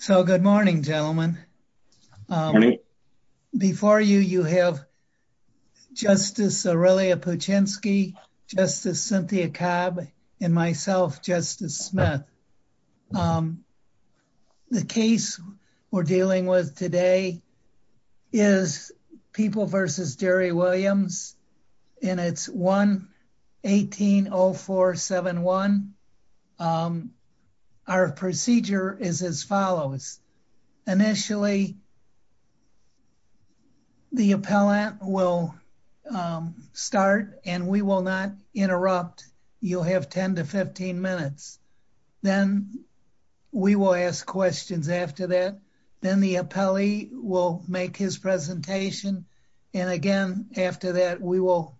So, good morning gentlemen. Before you, you have Justice Aurelia Puchinsky, Justice Cynthia Cobb, and myself, Justice Smith. The case we're dealing with today is People v. Jerry Initially, the appellant will start and we will not interrupt. You'll have 10-15 minutes. Then, we will ask questions after that. Then, the appellee will make his presentation and again, after that, we will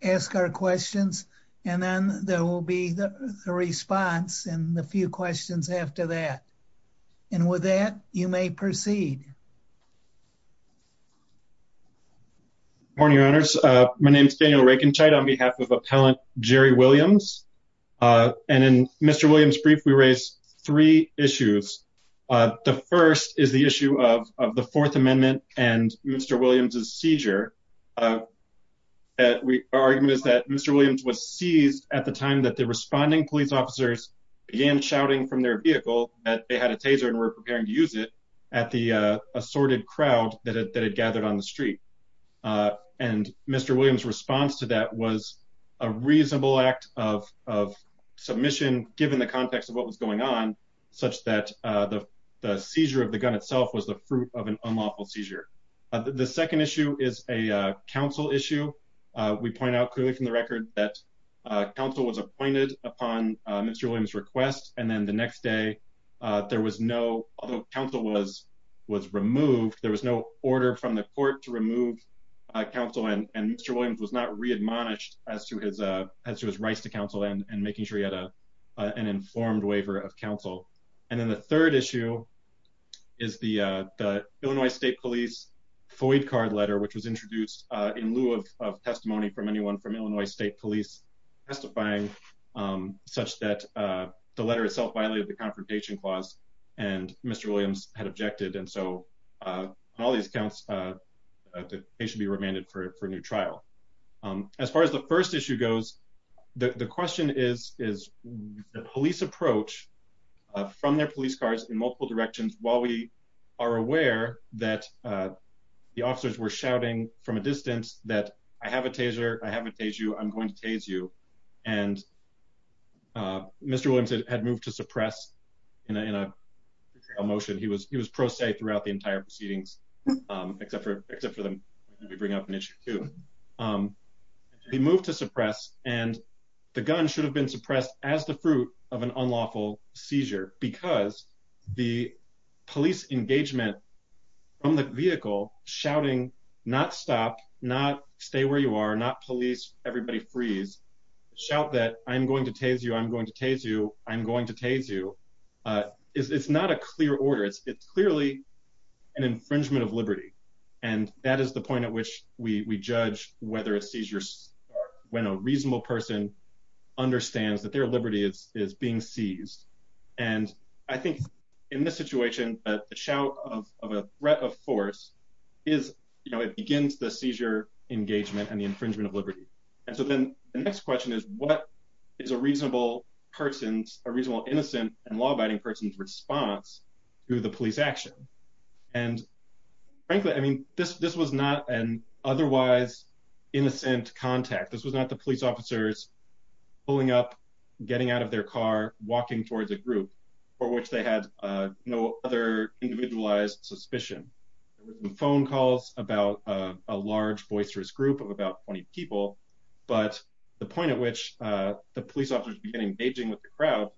ask our questions and then there will be the response and a few questions after that. And with that, you may proceed. Good morning, Your Honors. My name is Daniel Reikenscheid on behalf of Appellant Jerry Williams and in Mr. Williams' brief, we raised three issues. The first is the issue of the Fourth Amendment and Mr. Williams' seizure. Our argument is that Mr. Williams was seized at the time that responding police officers began shouting from their vehicle that they had a taser and were preparing to use it at the assorted crowd that had gathered on the street. Mr. Williams' response to that was a reasonable act of submission given the context of what was going on such that the seizure of the gun itself was the fruit of an unlawful seizure. The second issue is a counsel issue. We point out clearly from the record that counsel was appointed upon Mr. Williams' request and then the next day, there was no, although counsel was removed, there was no order from the court to remove counsel and Mr. Williams was not re-admonished as to his rights to counsel and making sure he had an informed waiver of counsel. And then, the third issue is the Illinois State Police FOID card letter which was introduced in lieu of testimony from anyone from Illinois State Police testifying such that the letter itself violated the Confrontation Clause and Mr. Williams had objected and so on all these accounts, they should be remanded for a new trial. As far as the first issue goes, the question is the police approach from their police cars in the officers were shouting from a distance that I have a taser, I haven't tased you, I'm going to tase you and Mr. Williams had moved to suppress in a motion. He was pro se throughout the entire proceedings except for them to bring up an issue too. He moved to suppress and the gun should have been suppressed as the fruit of an unlawful seizure because the police engagement from the vehicle shouting not stop, not stay where you are, not police, everybody freeze, shout that I'm going to tase you, I'm going to tase you, I'm going to tase you. It's not a clear order. It's clearly an infringement of liberty and that is the point at which we judge whether a seizure when a reasonable person understands that their liberty is being seized and I think in this force is, you know, it begins the seizure engagement and the infringement of liberty. And so then the next question is what is a reasonable person's, a reasonable innocent and law-abiding person's response to the police action? And frankly, I mean, this was not an otherwise innocent contact. This was not the police officers pulling up, getting out of their car, walking towards a group for which they had no other individualized suspicion. The phone calls about a large boisterous group of about 20 people but the point at which the police officers begin engaging with the crowd,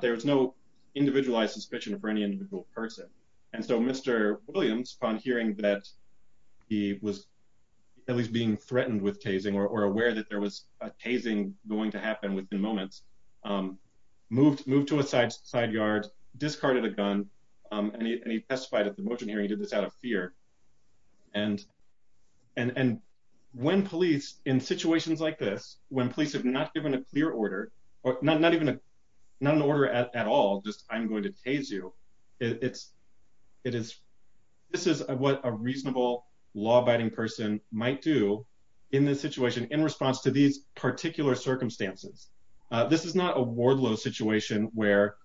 there was no individualized suspicion for any individual person and so Mr. Williams upon hearing that he was at least being threatened with tasing or aware that there was a tasing going to happen within moments, moved to a side yard, discarded a gun and he testified at the motion hearing. He did this out of fear and when police in situations like this, when police have not given a clear order or not an order at all, just I'm going to tase you, this is what a reasonable law-abiding person might do in this situation in response to these particular circumstances. This is not a Wardlow situation where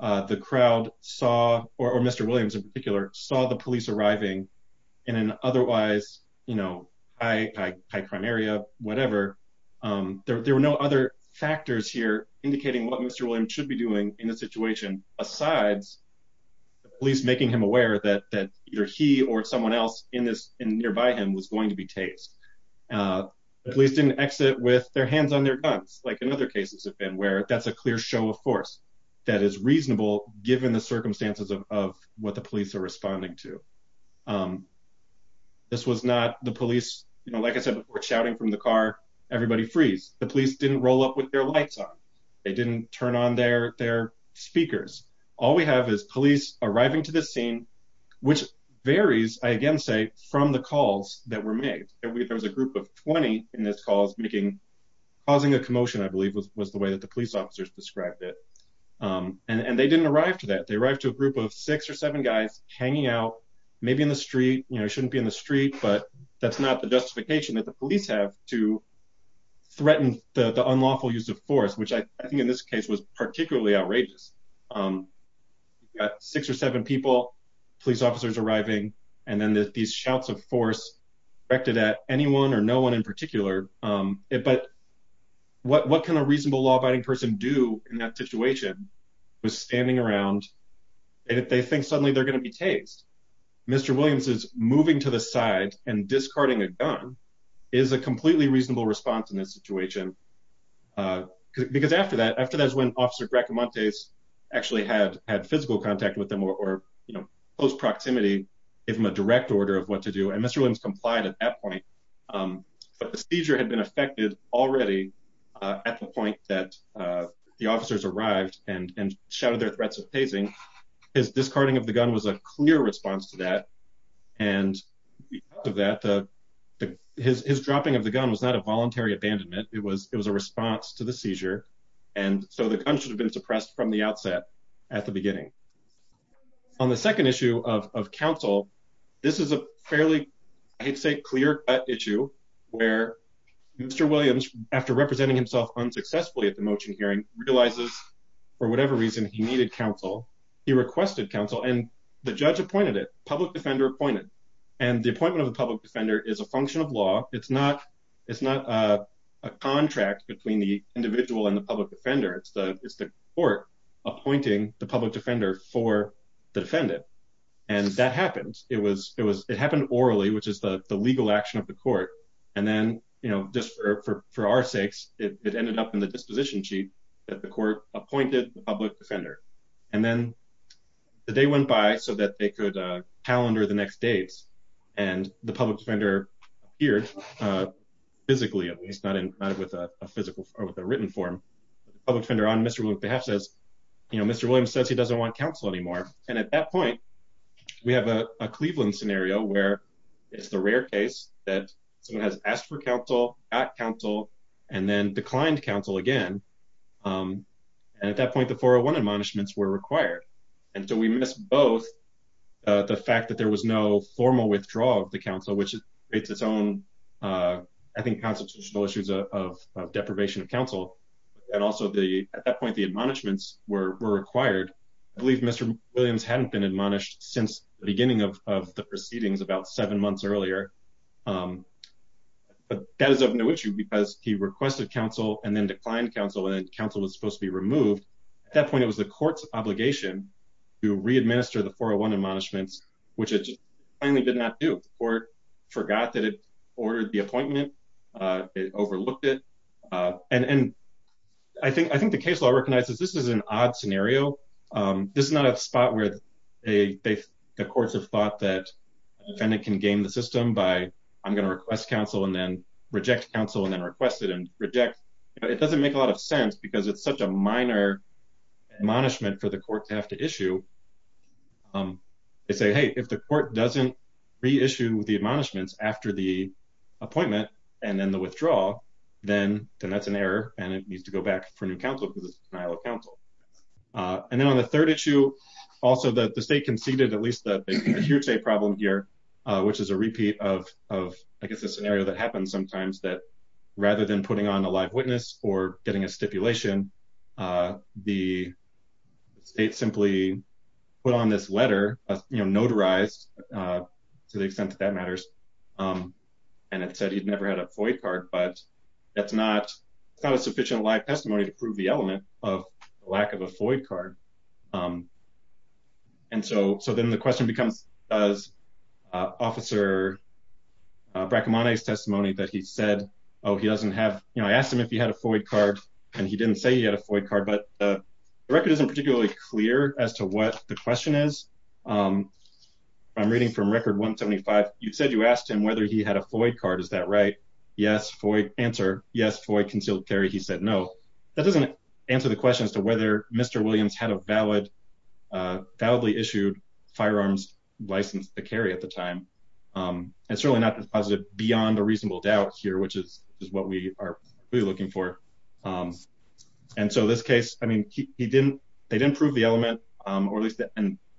the crowd saw, or Mr. Williams in particular, saw the police arriving in an otherwise, you know, high crime area, whatever. There were no other factors here indicating what Mr. Williams should be doing in the situation besides the police making him aware that either he or someone else in nearby him was going to be tased. The police didn't exit with their hands on their guns like in other cases have been where that's a clear show of force that is reasonable given the circumstances of what the police are responding to. This was not the police, you know, like I said before shouting from the car, everybody freeze. The police didn't roll up with their lights on. They didn't turn on their their speakers. All we have is police arriving to this scene which varies, I again say, from the calls that were made. There was a group of 20 in this cause making, causing a commotion I believe was the way that the police officers described it. And they didn't arrive to that. They arrived to a group of six or seven guys hanging out maybe in the street, you know, shouldn't be in the street but that's not the justification that the police have to threaten the unlawful use of force which I think in this case was particularly outrageous. Six or seven people, police officers arriving and then these shouts of force directed at anyone or no one in particular. But what can a reasonable law-abiding person do in that situation was standing around and if they think suddenly they're going to be tased. Mr. Williams is moving to the side and discarding a gun is a completely reasonable response in this situation. Because after that, after that's when Officer Gracamontes actually had physical contact with them or, you know, close proximity, give him a direct order of what to do. And Mr. Williams complied at that point. But the seizure had been affected already at the point that the officers arrived and shouted their threats of tasing. His discarding of the gun was a clear response to that. And because of that, his dropping of the gun was not a response from the outset at the beginning. On the second issue of counsel, this is a fairly, I hate to say, clear-cut issue where Mr. Williams, after representing himself unsuccessfully at the motion hearing, realizes for whatever reason he needed counsel. He requested counsel and the judge appointed it. Public defender appointed. And the appointment of the public defender is a function of law. It's not a contract between the individual and the public defender. It's the appointing the public defender for the defendant. And that happened. It was, it was, it happened orally, which is the legal action of the court. And then, you know, just for our sakes, it ended up in the disposition sheet that the court appointed the public defender. And then the day went by so that they could calendar the next dates. And the public defender appeared physically, at least not in, not with a physical or with a written form. Public defender on Mr. Williams' behalf says, you know, Mr. Williams says he doesn't want counsel anymore. And at that point, we have a Cleveland scenario where it's the rare case that someone has asked for counsel, got counsel, and then declined counsel again. And at that point, the 401 admonishments were required. And so we miss both the fact that there was no formal withdrawal of the counsel, which issues of deprivation of counsel. And also the, at that point, the admonishments were required. I believe Mr. Williams hadn't been admonished since the beginning of the proceedings about seven months earlier. But that is of no issue because he requested counsel and then declined counsel and counsel was supposed to be removed. At that point, it was the court's obligation to re-administer the 401 admonishments, which it just plainly did not do. The court forgot that it ordered the appointment. It overlooked it. And I think the case law recognizes this is an odd scenario. This is not a spot where the courts have thought that the defendant can game the system by, I'm going to request counsel and then reject counsel and then request it and reject. It doesn't make a lot of sense because it's such a minor admonishment for the court to issue. They say, hey, if the court doesn't re-issue the admonishments after the appointment and then the withdrawal, then that's an error and it needs to go back for new counsel because it's denial of counsel. And then on the third issue, also that the state conceded at least the here's a problem here, which is a repeat of, I guess, a scenario that happens sometimes that rather than putting on a live witness or getting a stipulation, the state simply put on this letter, notarized to the extent that that matters. And it said he'd never had a FOID card, but that's not a sufficient live testimony to prove the element of lack of a FOID card. Um, and so, so then the question becomes, does, uh, officer, uh, Bracamonte's testimony that he said, oh, he doesn't have, you know, I asked him if he had a FOID card and he didn't say he had a FOID card, but the record isn't particularly clear as to what the question is. Um, I'm reading from record 175. You said you asked him whether he had a FOID card. Is that right? Yes. FOID answer. Yes. FOID concealed carry. He said, no, that doesn't answer the question as to whether Mr. Williams had a valid, uh, validly issued firearms license to carry at the time. Um, and certainly not as positive beyond a reasonable doubt here, which is what we are really looking for. Um, and so this case, I mean, he, he didn't, they didn't prove the element, um, or at least the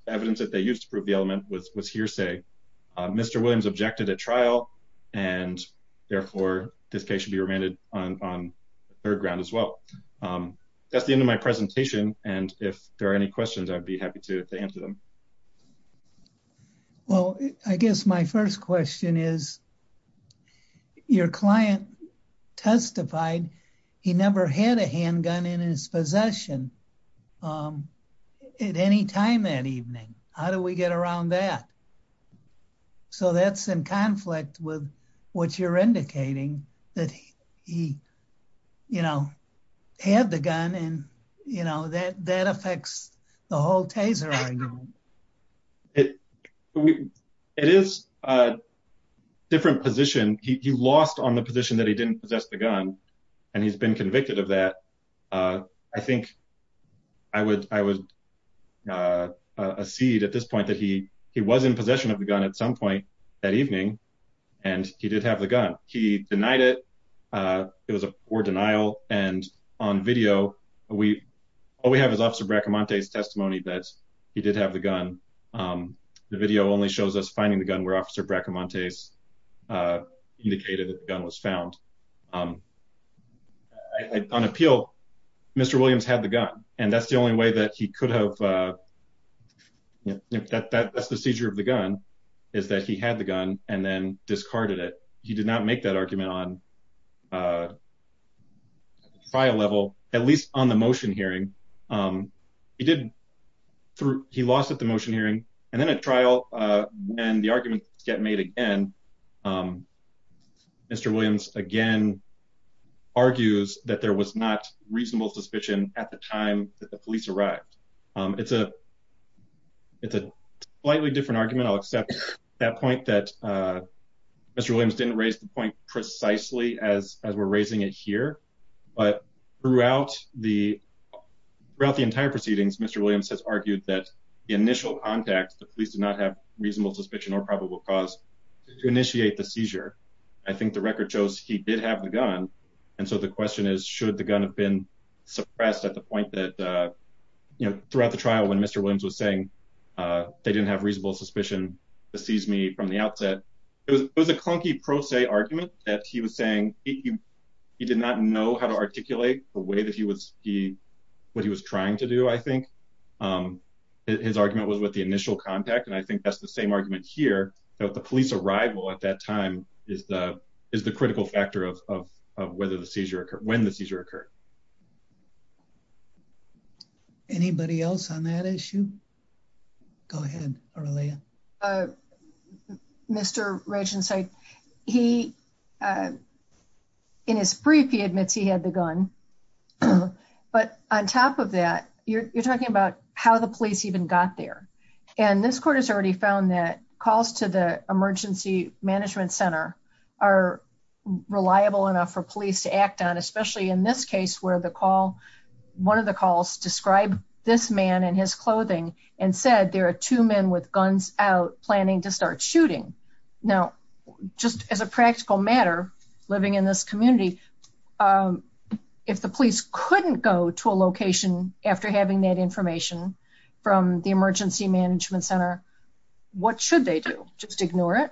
evidence that they used to prove the element was, was hearsay. Uh, Mr. Williams objected at trial and therefore this be remanded on third ground as well. Um, that's the end of my presentation. And if there are any questions, I'd be happy to answer them. Well, I guess my first question is your client testified he never had a handgun in his possession, um, at any time that evening, how do we get around that? So that's in conflict with what you're indicating that he, you know, had the gun and, you know, that, that affects the whole Taser argument. It, it is a different position. He lost on the position that he didn't possess the gun and he's been convicted of that. Uh, I think I would, I would, uh, uh, a seed at this point that he, he was in possession of the gun at some point that evening and he did have the gun. He denied it. Uh, it was a poor denial. And on video, we, all we have is officer Bracamonte's testimony that he did have the gun. Um, the video only shows us finding the gun where officer Bracamonte's, uh, indicated that the gun was found. Um, I, I, on appeal, Mr. Williams had the gun and that's the only way that he could have, uh, that, that, that's the seizure of the gun is that he had the gun and then discarded it. He did not make that argument on, uh, trial level, at least on the motion hearing. Um, he did through, he lost at the motion hearing and then at trial, uh, when the arguments get made again, um, Mr. Williams again argues that there was not reasonable suspicion at the time that the police arrived. Um, it's a, it's a slightly different argument. I'll accept that point that, uh, Mr. Williams didn't raise the point precisely as, as we're raising it here, but throughout the, throughout the entire proceedings, Mr. Williams has argued that the initial context, the police did not have reasonable suspicion or probable cause to initiate the seizure. I think the record shows he did have the gun. And so the question is, should the gun have been suppressed at the point that, uh, you know, throughout the trial, when Mr. Williams was saying, uh, they didn't have reasonable suspicion to seize me from the outset, it was, it was a clunky pro se argument that he was saying he, he did not know how to articulate the way that he was, he, what he was trying to do. I think, um, his argument was with the initial contact. And I think that's the same argument here that the police arrival at that time is the, is the critical factor of, of, of whether the seizure occurred when the seizure occurred. Anybody else on that issue? Go ahead. Uh, Mr. Regency, he, uh, his brief, he admits he had the gun, but on top of that, you're talking about how the police even got there. And this court has already found that calls to the emergency management center are reliable enough for police to act on, especially in this case, where the call, one of the calls described this man and his clothing and said, there are two men with guns out planning to start shooting. Now, just as a practical matter, living in this community, um, if the police couldn't go to a location after having that information from the emergency management center, what should they do? Just ignore it.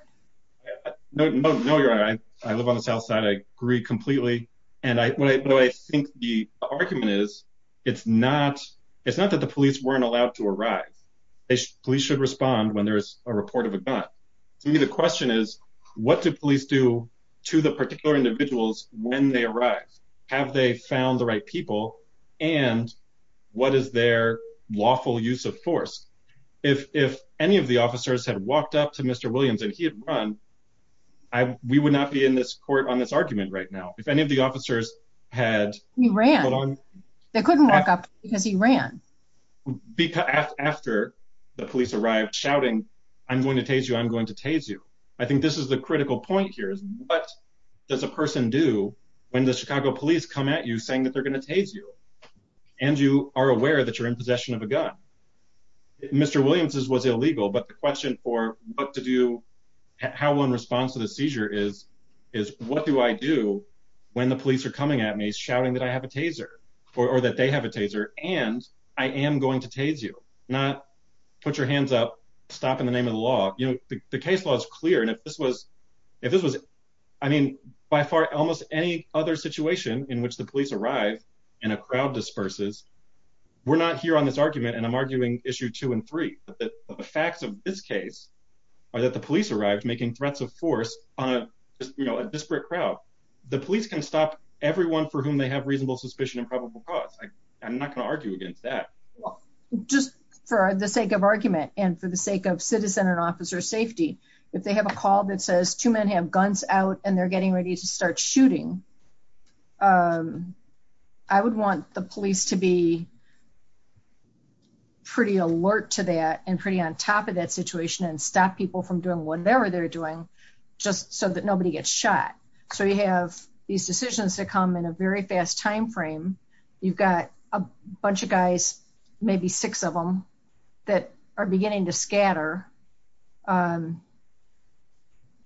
No, no, no. You're right. I live on the South side. I agree completely. And I think the argument is it's not, it's not that the police weren't allowed to arrive. They should, police should respond when there's a report of a gun. To me, the question is what did police do to the particular individuals when they arrived? Have they found the right people and what is their lawful use of force? If, if any of the officers had walked up to Mr. Williams and he had run, I, we would not be in this court on this argument right now. If any of the officers had ran, they couldn't walk up because he ran after the police arrived shouting, I'm going to tase you. I'm going to tase you. I think this is the critical point here is what does a person do when the Chicago police come at you saying that they're going to tase you and you are aware that you're in possession of a gun. Mr. Williams's was illegal, but the question for what to do, how one responds to the seizure is, is what do I do when the police are coming at me shouting that I have a taser or that they have a taser and I am going to tase you, not put your hands up, stop in the name of the law. You know, the case law is clear. And if this was, if this was, I mean, by far, almost any other situation in which the police arrive and a crowd disperses, we're not here on this argument and I'm arguing issue two and three, but the facts of this case are that the police arrived making threats of force on a, you know, a disparate crowd. The police can stop everyone for whom they have reasonable suspicion and probable cause. I'm not going to argue against that. Well, just for the sake of argument and for the sake of citizen and officer safety, if they have a call that says two men have guns out and they're getting ready to start shooting, I would want the police to be pretty alert to that and pretty on top of that situation and stop people from doing whatever they're doing just so that nobody gets shot. So you have these decisions that come in a very fast timeframe. You've got a bunch of guys, maybe six of them that are beginning to scatter.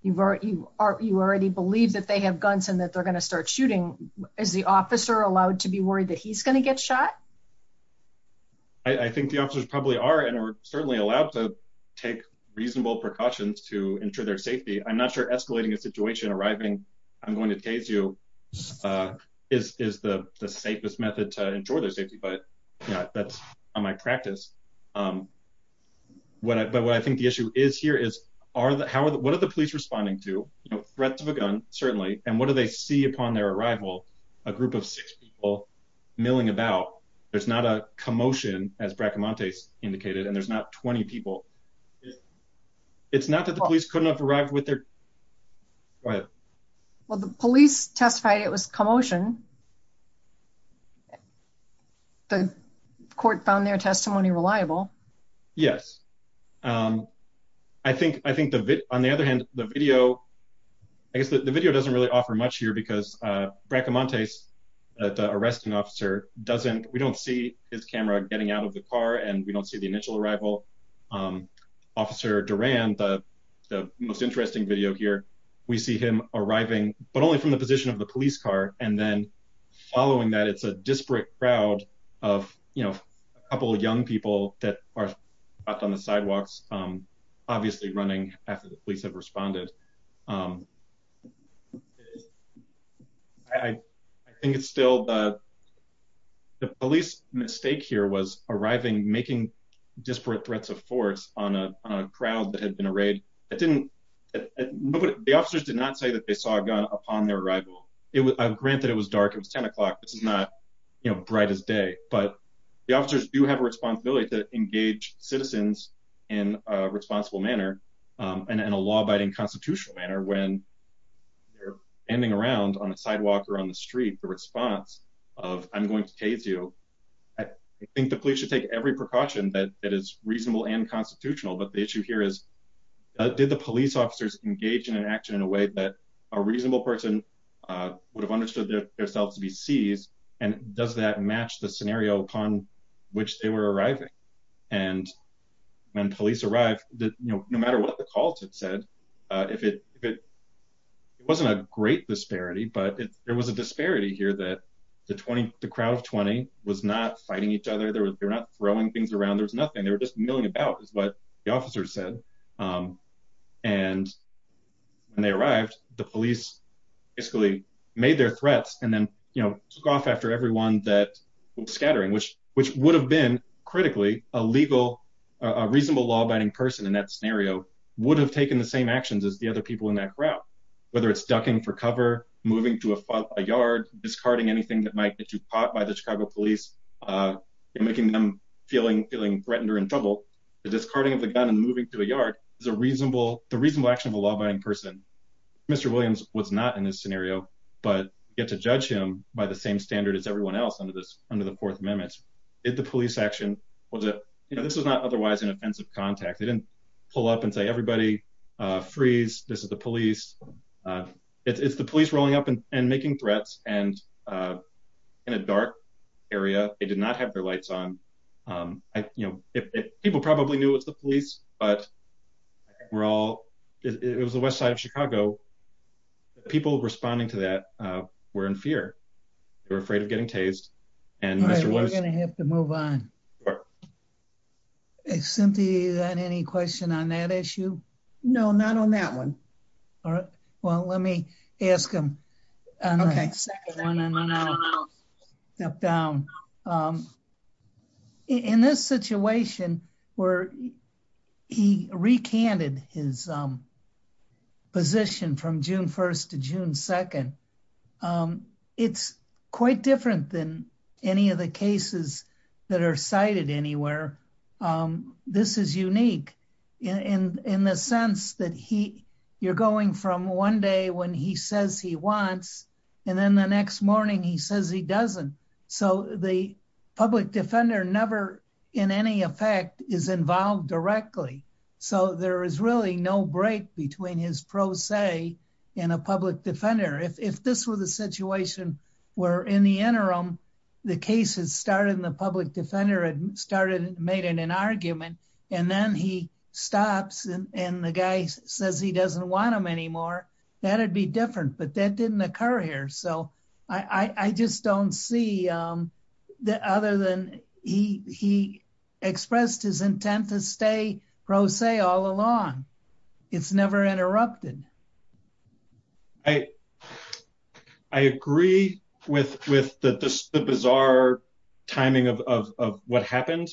You've already, you already believe that they have guns and that they're going to start I think the officers probably are and are certainly allowed to take reasonable precautions to ensure their safety. I'm not sure escalating a situation, arriving, I'm going to tase you, is the safest method to ensure their safety, but yeah, that's on my practice. But what I think the issue is here is are the, how are the, what are the police responding to, you know, threats of a gun certainly, and what do they see upon their arrival? A group of six people about, there's not a commotion as Bracamontes indicated and there's not 20 people. It's not that the police couldn't have arrived with their, go ahead. Well, the police testified it was commotion. The court found their testimony reliable. Yes. I think, I think the, on the other hand, the video, I guess the video doesn't really offer much here because Bracamontes, the arresting officer doesn't, we don't see his camera getting out of the car and we don't see the initial arrival. Officer Duran, the most interesting video here, we see him arriving, but only from the position of the police car. And then following that, it's a disparate crowd of, you know, a couple of young people that are out on the sidewalks, obviously running after the police have responded. I think it's still, the police mistake here was arriving, making disparate threats of force on a crowd that had been arrayed. It didn't, the officers did not say that they saw a gun upon their arrival. It was, granted it was dark, it was 10 o'clock. This is not, you know, bright as day, but the officers do have a responsibility to engage citizens in a responsible manner and in a law-abiding constitutional manner when they're standing around on a sidewalk or on the street, the response of, I'm going to taze you. I think the police should take every precaution that is reasonable and constitutional. But the issue here is, did the police officers engage in an action in a way that a reasonable person would have understood themselves to be seized? And does that match the scenario upon which they were arriving? And when police arrived, no matter what the calls had said, it wasn't a great disparity, but there was a disparity here that the crowd of 20 was not fighting each other. They were not throwing things around. There was nothing. They were just milling about is what the officers said. And when they arrived, the police basically made their threats and then took off after everyone that was scattering, which would have been critically a reasonable law-abiding person in that scenario would have taken the same actions as the other people in that crowd, whether it's ducking for cover, moving to a yard, discarding anything that might get you caught by the Chicago police and making them feeling threatened or in trouble. The discarding of the gun and moving to a yard is the reasonable action of a law-abiding person. Mr. Williams was not in this scenario, but you get to judge him by the same standard as everyone else under the fourth amendment. Did the police action, this was not otherwise an offensive contact. They didn't pull up and say, everybody freeze. This is the police. It's the police rolling up and making threats and in a dark area, they did not have their lights on. You know, people probably knew it was the police, but we're all, it was the West side of Chicago. People responding to that were in fear. They were afraid of getting tased. Cynthia, you got any question on that issue? No, not on that one. All right. Well, let me ask him. Step down. In this situation where he recanted his position from June 1st to June 2nd, it's quite different than any of the cases that are cited anywhere. This is unique in the sense that you're going from one day when he says he wants, and then the next morning he says he doesn't. So the public defender never in any effect is involved directly. So there is really no break between his pro se and a public defender. If this was a situation where in the interim, the case has started and the public defender had started and made an argument, and then he says he doesn't want him anymore, that'd be different, but that didn't occur here. So I just don't see that other than he expressed his intent to stay pro se all along. It's never interrupted. I agree with the bizarre timing of what happened.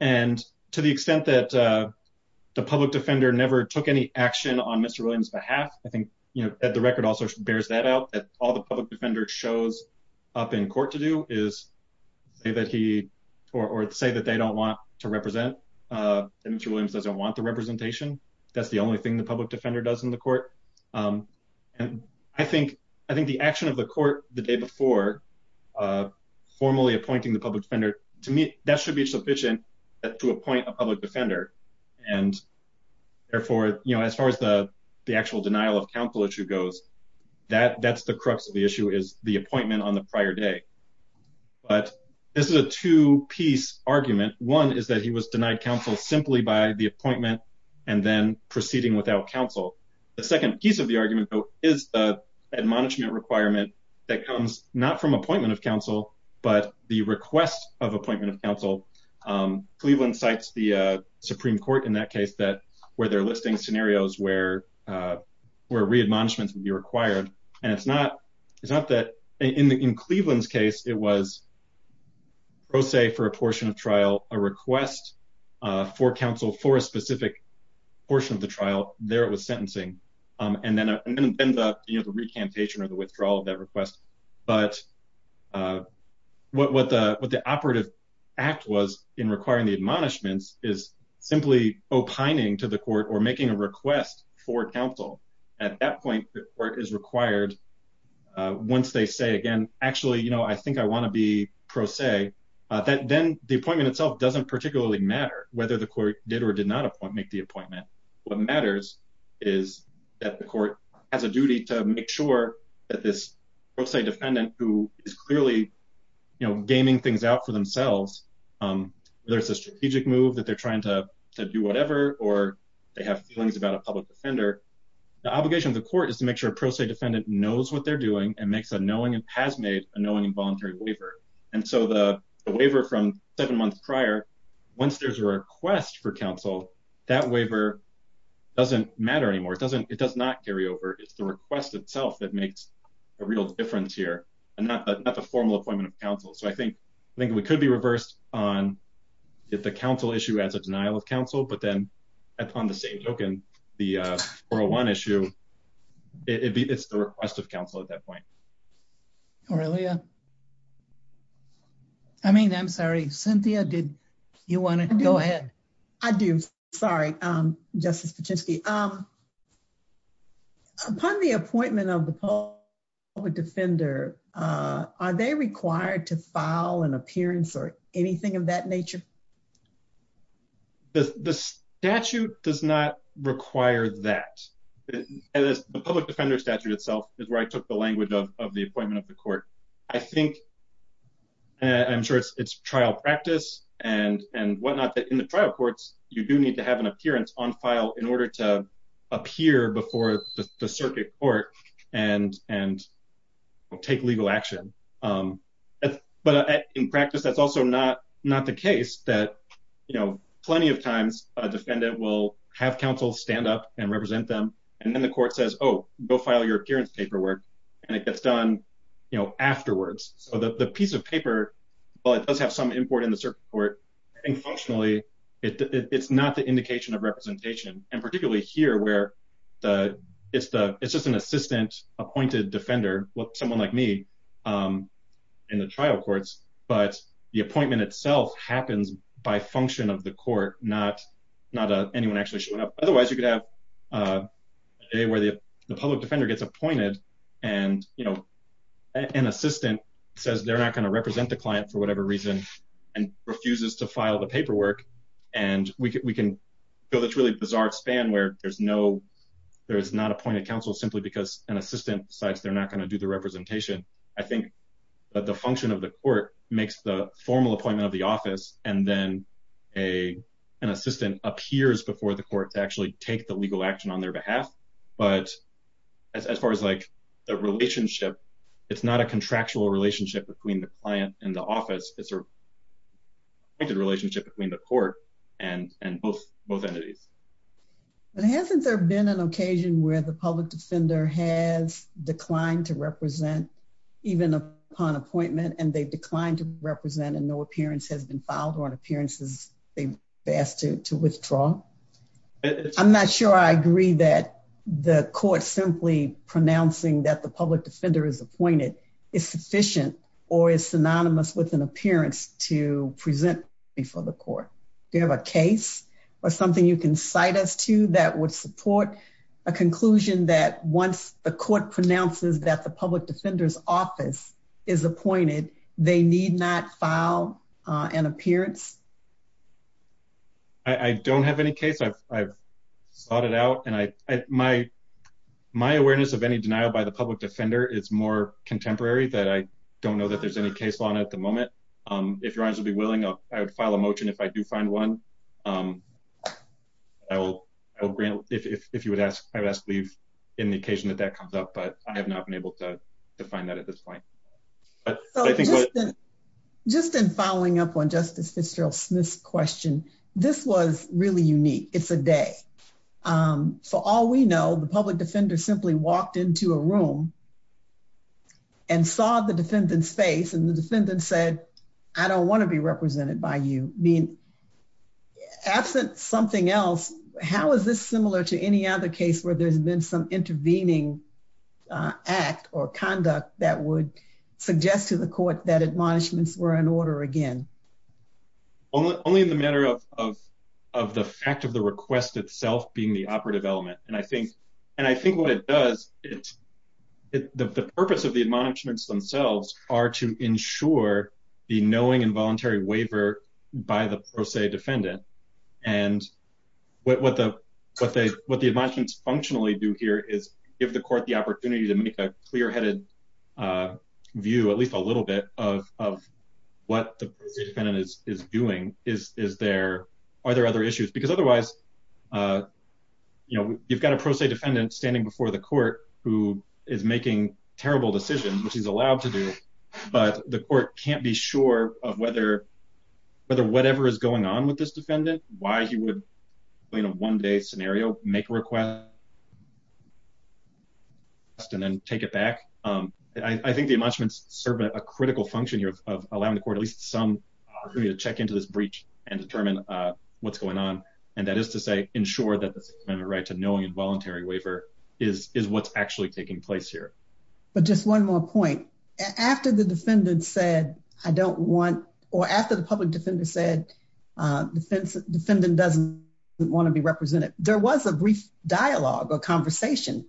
And to the extent that the public defender never took any action on Mr. Williams' behalf, I think the record also bears that out. All the public defender shows up in court to do is say that they don't want to represent. Mr. Williams doesn't want the representation. That's the only thing the public defender does in the court. And I think the action of the court the day before formally appointing the public defender, to me, that should be sufficient to appoint a public defender. And therefore, as far as the actual denial of counsel issue goes, that's the crux of the issue is the appointment on the prior day. But this is a two-piece argument. One is that he was denied counsel simply by the appointment and then proceeding without counsel. The second piece of the argument, though, is the admonishment requirement that comes not from appointment of counsel, but the request of Cleveland cites the Supreme Court in that case where they're listing scenarios where re-admonishments would be required. And it's not that in Cleveland's case, it was pro se for a portion of trial, a request for counsel for a specific portion of the trial, there it was sentencing. And then the recantation or the withdrawal of that request. But what the operative act was in requiring the admonishments is simply opining to the court or making a request for counsel. At that point, the court is required, once they say again, actually, I think I want to be pro se, then the appointment itself doesn't particularly matter whether the court did or did not make the appointment. What matters is that the court has a duty to make sure that this pro se defendant who is clearly, you know, gaming things out for themselves, there's a strategic move that they're trying to do whatever, or they have feelings about a public defender. The obligation of the court is to make sure a pro se defendant knows what they're doing and makes a knowing and has made a knowing involuntary waiver. And so the waiver from seven months prior, once there's a request for counsel, that waiver doesn't matter anymore. It doesn't, it does not carry over. It's the request itself that makes a real difference here and not the formal appointment of counsel. So I think we could be reversed on the counsel issue as a denial of counsel, but then upon the same token, the 401 issue, it's the request of counsel at that point. Aurelia, I mean, I'm sorry, Cynthia, did you want to go ahead? I do. Sorry, Justice Pachinski. Upon the appointment of the public defender, are they required to file an appearance or anything of that nature? The statute does not require that. The public defender statute itself is where I took the appointment of the court. I think, I'm sure it's trial practice and whatnot that in the trial courts, you do need to have an appearance on file in order to appear before the circuit court and take legal action. But in practice, that's also not the case that plenty of times a defendant will have counsel stand up and represent them. And then the court says, oh, go file your appearance and it gets done afterwards. So the piece of paper, while it does have some import in the circuit court, I think functionally, it's not the indication of representation. And particularly here where it's just an assistant appointed defender, someone like me in the trial courts, but the appointment itself happens by function of the court, not anyone actually showing up. Otherwise, you could have a day where the public defender gets appointed and an assistant says they're not going to represent the client for whatever reason and refuses to file the paperwork. And we can go this really bizarre span where there's not appointed counsel simply because an assistant decides they're not going to do the representation. I think that the function of the court makes the legal action on their behalf. But as far as like the relationship, it's not a contractual relationship between the client and the office. It's a relationship between the court and both entities. But hasn't there been an occasion where the public defender has declined to represent even upon appointment and they declined to represent and no appearance has been filed or an appearance is asked to withdraw? I'm not sure I agree that the court simply pronouncing that the public defender is appointed is sufficient or is synonymous with an appearance to present before the court. Do you have a case or something you can cite us to that would support a conclusion that once the court pronounces that the public defender's office is appointed, they need not file an appearance? I don't have any case. I've sought it out and my awareness of any denial by the public defender is more contemporary that I don't know that there's any case on at the moment. If your honors would be willing, I would file a motion if I do find one. I will grant if you would ask, I would ask leave in the occasion that that comes up, but I have not been able to find that at this point. Just in following up on Justice Fitzgerald Smith's question, this was really unique. It's a day. For all we know, the public defender simply walked into a room and saw the defendant's face and the defendant said, I don't want to be represented by you. Absent something else, how is this similar to any other case where there's been some intervening act or conduct that would suggest to the court that admonishments were in order again? Only in the matter of the fact of the request itself being the operative element, and I think what it does, the purpose of the admonishments themselves are to ensure the knowing involuntary waiver by the pro se defendant. What the admonishments functionally do here is give the court the opportunity to make a clear headed view, at least a little bit of what the defendant is doing. Are there other issues? Because otherwise, you've got a pro se defendant standing before the court who is making terrible decisions, which he's allowed to do, but the court can't be sure of whether whatever is going on with why he would, in a one day scenario, make a request and then take it back. I think the admonishments serve a critical function here of allowing the court at least some to check into this breach and determine what's going on. And that is to say, ensure that the right to knowing involuntary waiver is what's actually taking place here. But just one more point after the defendant said, I don't want, or after the public defender said, defense defendant doesn't want to be represented. There was a brief dialogue or conversation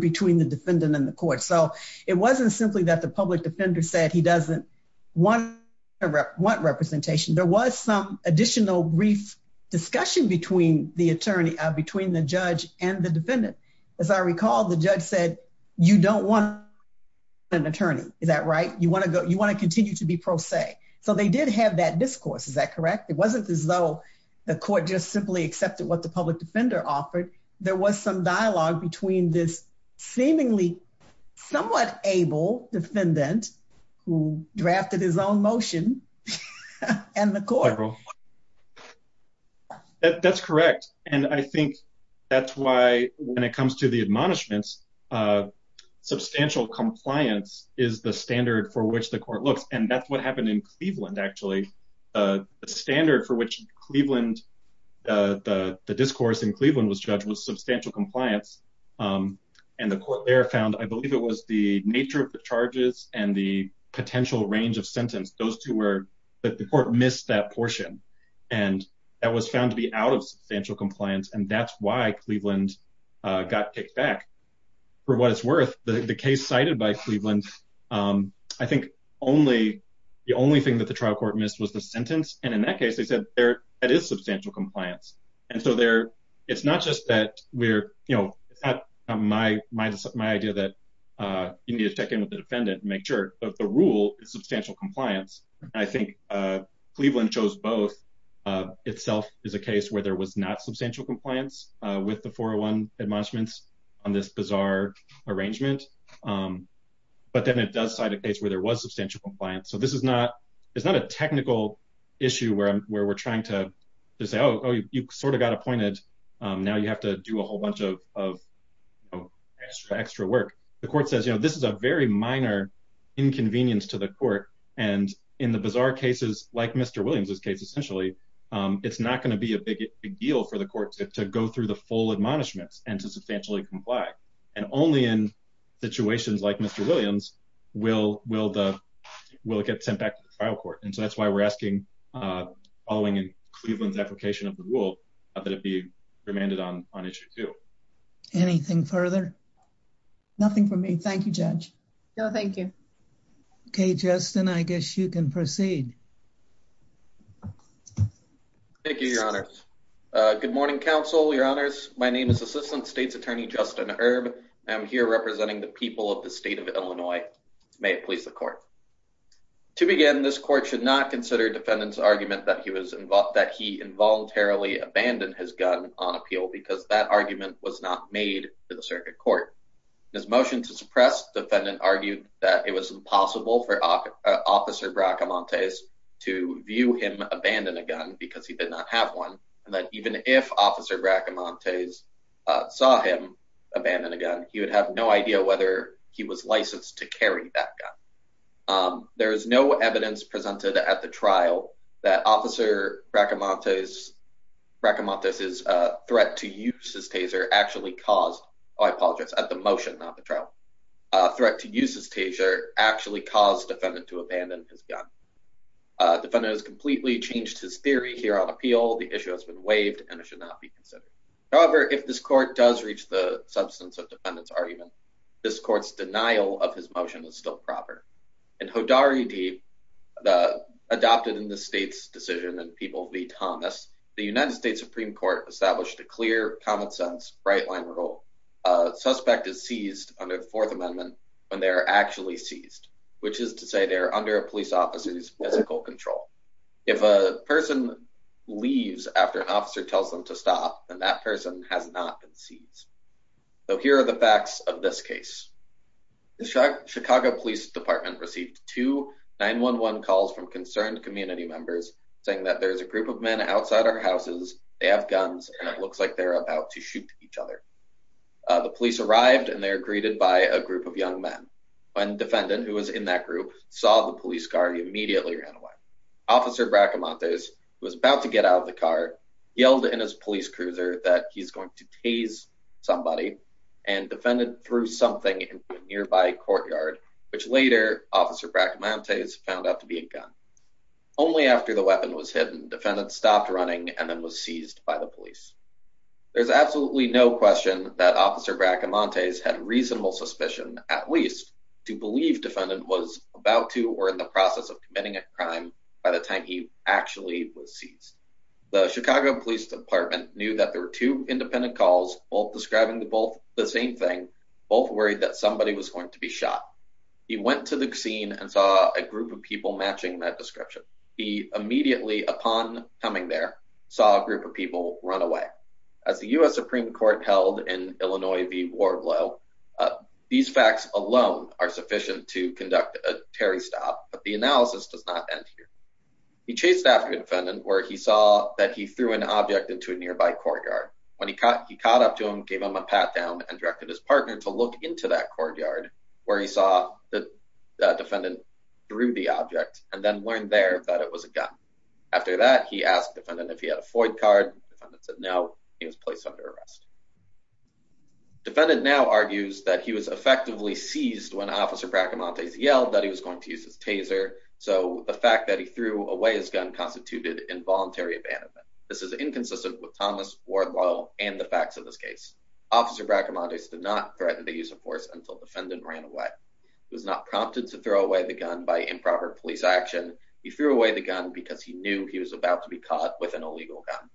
between the defendant and the court. So it wasn't simply that the public defender said he doesn't want representation. There was some additional brief discussion between the attorney, between the judge and the defendant. As I recall, the judge said, you don't want an attorney. Is that right? You want to go, you want to continue to be pro se. So they did have that discourse. Is that correct? It wasn't as though the court just simply accepted what the public defender offered. There was some dialogue between this seemingly somewhat able defendant who drafted his own motion and the court. That's correct. And I think that's why when it comes to the admonishments, substantial compliance is the standard for which the court looks. And that's happened in Cleveland, actually. The standard for which Cleveland, the discourse in Cleveland was judged was substantial compliance. And the court there found, I believe it was the nature of the charges and the potential range of sentence. Those two were, the court missed that portion. And that was found to be out of substantial compliance. And that's why Cleveland got kicked back for what it's worth. The case cited by Cleveland, I think only the only thing that the trial court missed was the sentence. And in that case, they said that is substantial compliance. And so there, it's not just that we're, you know, it's not my idea that you need to check in with the defendant and make sure that the rule is substantial compliance. I think Cleveland chose both. Itself is a case where there was not substantial compliance with the 401 admonishments on this bizarre arrangement. But then it does cite a case where there was substantial compliance. So this is not, it's not a technical issue where we're trying to say, oh, you sort of got appointed. Now you have to do a whole bunch of extra work. The court says, you know, this is a very minor inconvenience to the court. And in the bizarre cases, like Mr. Williams's case, essentially, it's not going to be a big deal for the court to go through the full admonishments and to substantially comply. And only in situations like Mr. Williams, will it get sent back to the trial court. And so that's why we're asking, following Cleveland's application of the rule, that it be remanded on issue two. Anything further? Nothing from me. Thank you, Judge. No, thank you. Okay, Justin, I guess you can proceed. Thank you, your honors. Good morning, counsel, your honors. My name is Assistant State's Attorney Justin Erb. I'm here representing the people of the state of Illinois. May it please the court. To begin, this court should not consider defendant's argument that he was involved, that he involuntarily abandoned his gun on appeal because that argument was not made to the circuit court. His motion to suppress defendant argued that it was impossible for Officer Bracamontes to view him abandon a gun because he did not have one. And that even if Officer Bracamontes saw him abandon a gun, he would have no idea whether he was licensed to carry that gun. There is no evidence presented at the trial that Officer Bracamontes' threat to use his taser actually caused, oh, I apologize, at the motion, not the trial, threat to use his taser actually caused defendant to abandon his gun. Defendant has completely changed his theory here on appeal. The issue has been waived and it should not be considered. However, if this court does reach the substance of defendant's argument, this court's denial of his motion is still proper. In Hodari v. Adopted in the state's decision in People v. Thomas, the United States Supreme Court established a clear, common sense, bright line rule. A suspect is seized under the Fourth Amendment when they're actually seized, which is to say they're under a police officer's physical control. If a person leaves after an officer tells them to stop, then that person has not been seized. So here are the facts of this case. The Chicago Police Department received two 9-1-1 calls from concerned community members saying that there's a group of men outside our houses, they have guns, and it looks like they're about to shoot each other. The police arrived and they're greeted by a group of young men. When defendant, who was in that group, saw the police car, he immediately ran away. Officer Bracamontes, who was about to get out of the car, yelled in his police cruiser that he's going to tase somebody, and defendant threw something into a nearby courtyard, which later Officer Bracamontes found out to be a gun. Only after the weapon was hidden, defendant stopped running and then was seized by the police. There's absolutely no question that Officer Bracamontes had reasonable suspicion, at least to believe defendant was about to or in the process of committing a crime by the time he actually was seized. The Chicago Police Department knew that there were two independent calls, both describing both the same thing, both worried that somebody was going to be shot. He went to the scene and saw a group of people matching that description. He immediately, upon coming there, saw a group of people run away. As the U.S. Supreme Court held in these facts alone are sufficient to conduct a Terry stop, but the analysis does not end here. He chased after defendant where he saw that he threw an object into a nearby courtyard. When he caught, he caught up to him, gave him a pat down and directed his partner to look into that courtyard where he saw that defendant drew the object and then learned there that it was a gun. After that, he asked defendant if he had a Floyd card. Defendant said no. He was placed under arrest. Defendant now argues that he was effectively seized when Officer Bracamontes yelled that he was going to use his taser. So the fact that he threw away his gun constituted involuntary abandonment. This is inconsistent with Thomas Wardwell and the facts of this case. Officer Bracamontes did not threaten the use of force until defendant ran away. He was not prompted to throw away the gun by improper police action. He threw away the gun because he knew he was about to be caught with an illegal gun.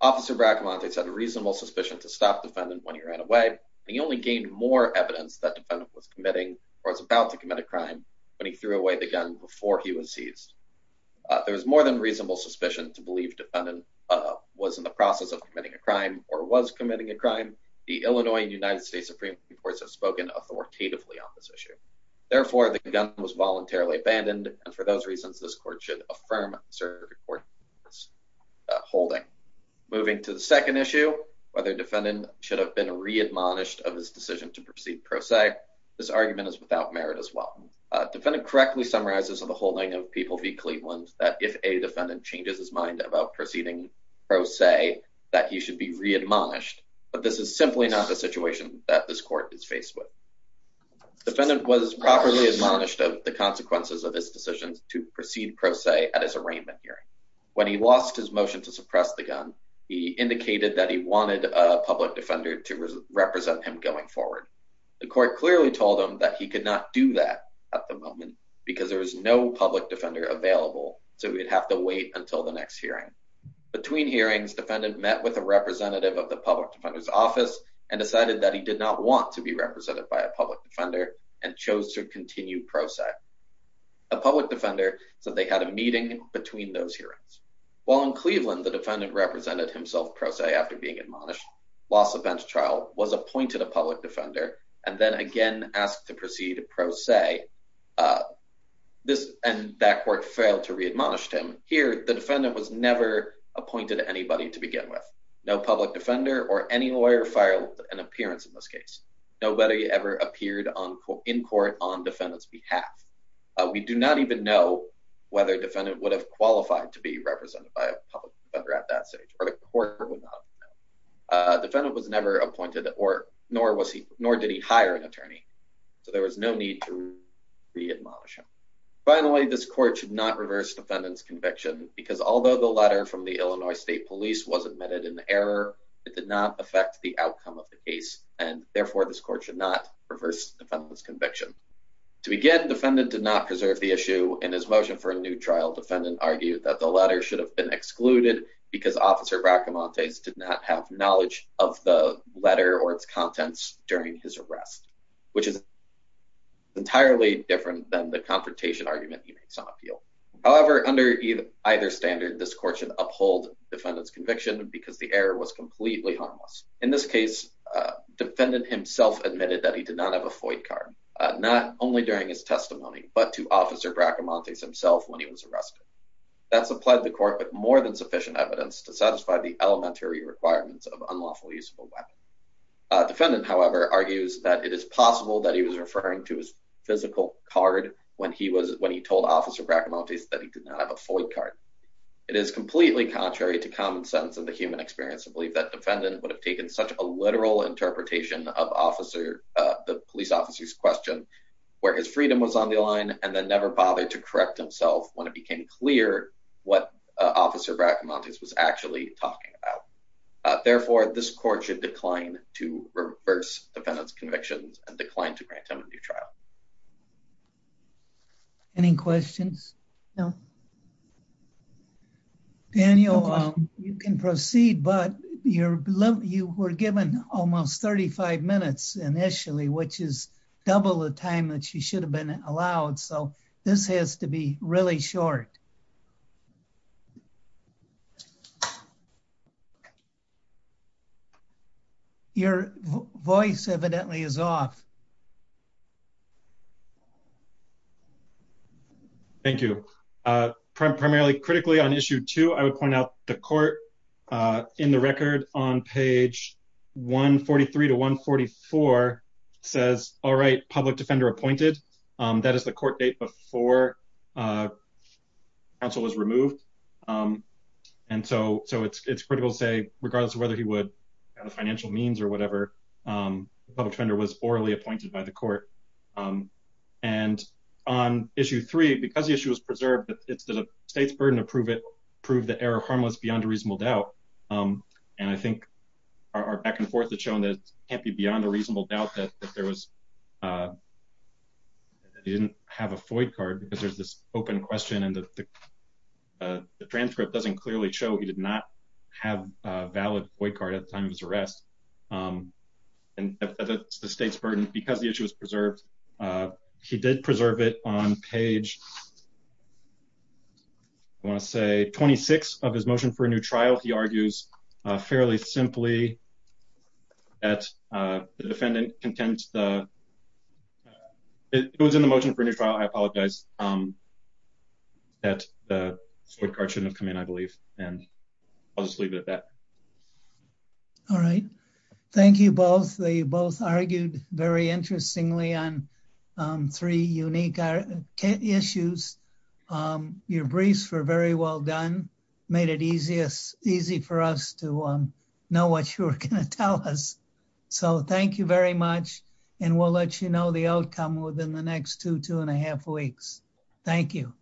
Officer Bracamontes had a reasonable suspicion to stop defendant when he ran away. He only gained more evidence that defendant was committing or was about to commit a crime when he threw away the gun before he was seized. There was more than reasonable suspicion to believe defendant was in the process of committing a crime or was committing a crime. The Illinois and United States Supreme Court have spoken authoritatively on this issue. Therefore, the gun was voluntarily abandoned. And for those reasons, this court should affirm the court's holding. Moving to the second issue, whether defendant should have been re-admonished of his decision to proceed pro se. This argument is without merit as well. Defendant correctly summarizes in the holding of People v. Cleveland that if a defendant changes his mind about proceeding pro se, that he should be re-admonished. But this is simply not the situation that this court is faced with. Defendant was properly admonished of the consequences of his decisions to proceed pro se at his arraignment hearing. When he lost his motion to suppress the gun, he indicated that he wanted a public defender to represent him going forward. The court clearly told him that he could not do that at the moment because there was no public defender available, so he'd have to wait until the next hearing. Between hearings, defendant met with a representative of the public defender's office and decided that he did not want to be represented by a public defender and chose to continue pro se. A public defender said they had a meeting between those hearings. While in Cleveland, the defendant represented himself pro se after being admonished, lost the bench trial, was appointed a public defender, and then again asked to proceed pro se. This and that court failed to re-admonish him. Here, the defendant was never appointed anybody to begin with. No public defender or any lawyer filed an appearance in this case. Nobody ever appeared in court on defendant's behalf. We do not even know whether defendant would have qualified to be represented by a public defender at that stage, or the court would not have known. Defendant was never appointed, nor did he hire an attorney, so there was no need to re-admonish him. Finally, this court should not reverse defendant's conviction because although the letter from the Illinois State Police was admitted in error, it did not affect the outcome of the case, and therefore this court should not reverse defendant's conviction. To begin, defendant did not preserve the issue. In his motion for a new trial, defendant argued that the letter should have been excluded because officer Bracamontes did not have knowledge of the letter or its contents during his arrest, which is entirely different than the confrontation argument he makes on appeal. However, under either standard, this court should uphold defendant's conviction because the error was completely harmless. In this case, defendant himself admitted that he did not have a FOI card, not only during his testimony, but to officer Bracamontes himself when he was arrested. That's applied to the court with more than sufficient evidence to satisfy the elementary requirements of unlawful use of a weapon. Defendant, however, argues that it is possible that he was referring to his physical card when he told officer Bracamontes that he did not have a FOI card. It is completely contrary to common sense and the human experience to believe that defendant would have taken such a literal interpretation of the police officer's question where his freedom was on the line and then never bothered to correct himself when it became clear what officer Bracamontes was actually talking about. Therefore, this court should decline to reverse defendant's convictions and decline to grant him a new trial. Any questions? No. Daniel, you can proceed, but you were given almost 35 minutes initially, which is double the time that you should have been allowed, so this has to be really short. Your voice evidently is off. Thank you. Primarily, critically, on issue two, I would point out the court in the record on page 143 to 144 says, all right, public defender appointed. That is the court date before counsel was removed, and so it's critical to say regardless of whether he would have a financial means or whatever, public defender was orally appointed by the court, and on issue three, because the issue was preserved, it's the state's burden to prove the error harmless beyond a reasonable doubt, and I think our back and forth has shown that it can't be beyond a reasonable doubt that he didn't have a FOI card because there's this open question and the transcript doesn't clearly show he did not have a valid FOI card at the time of his arrest, and that's the state's burden because the issue was preserved. He did preserve it on page I want to say 26 of his motion for a new trial. He argues fairly simply that the defendant contends the it goes in the motion for a new trial. I apologize that the court card shouldn't have come in, I believe, and I'll just leave it at that. All right. Thank you both. They both argued very interestingly on three unique issues. Your briefs were very well done, made it easy for us to know what you were going to tell us, so thank you very much, and we'll let you know the outcome within the next two, two and a half weeks. Thank you.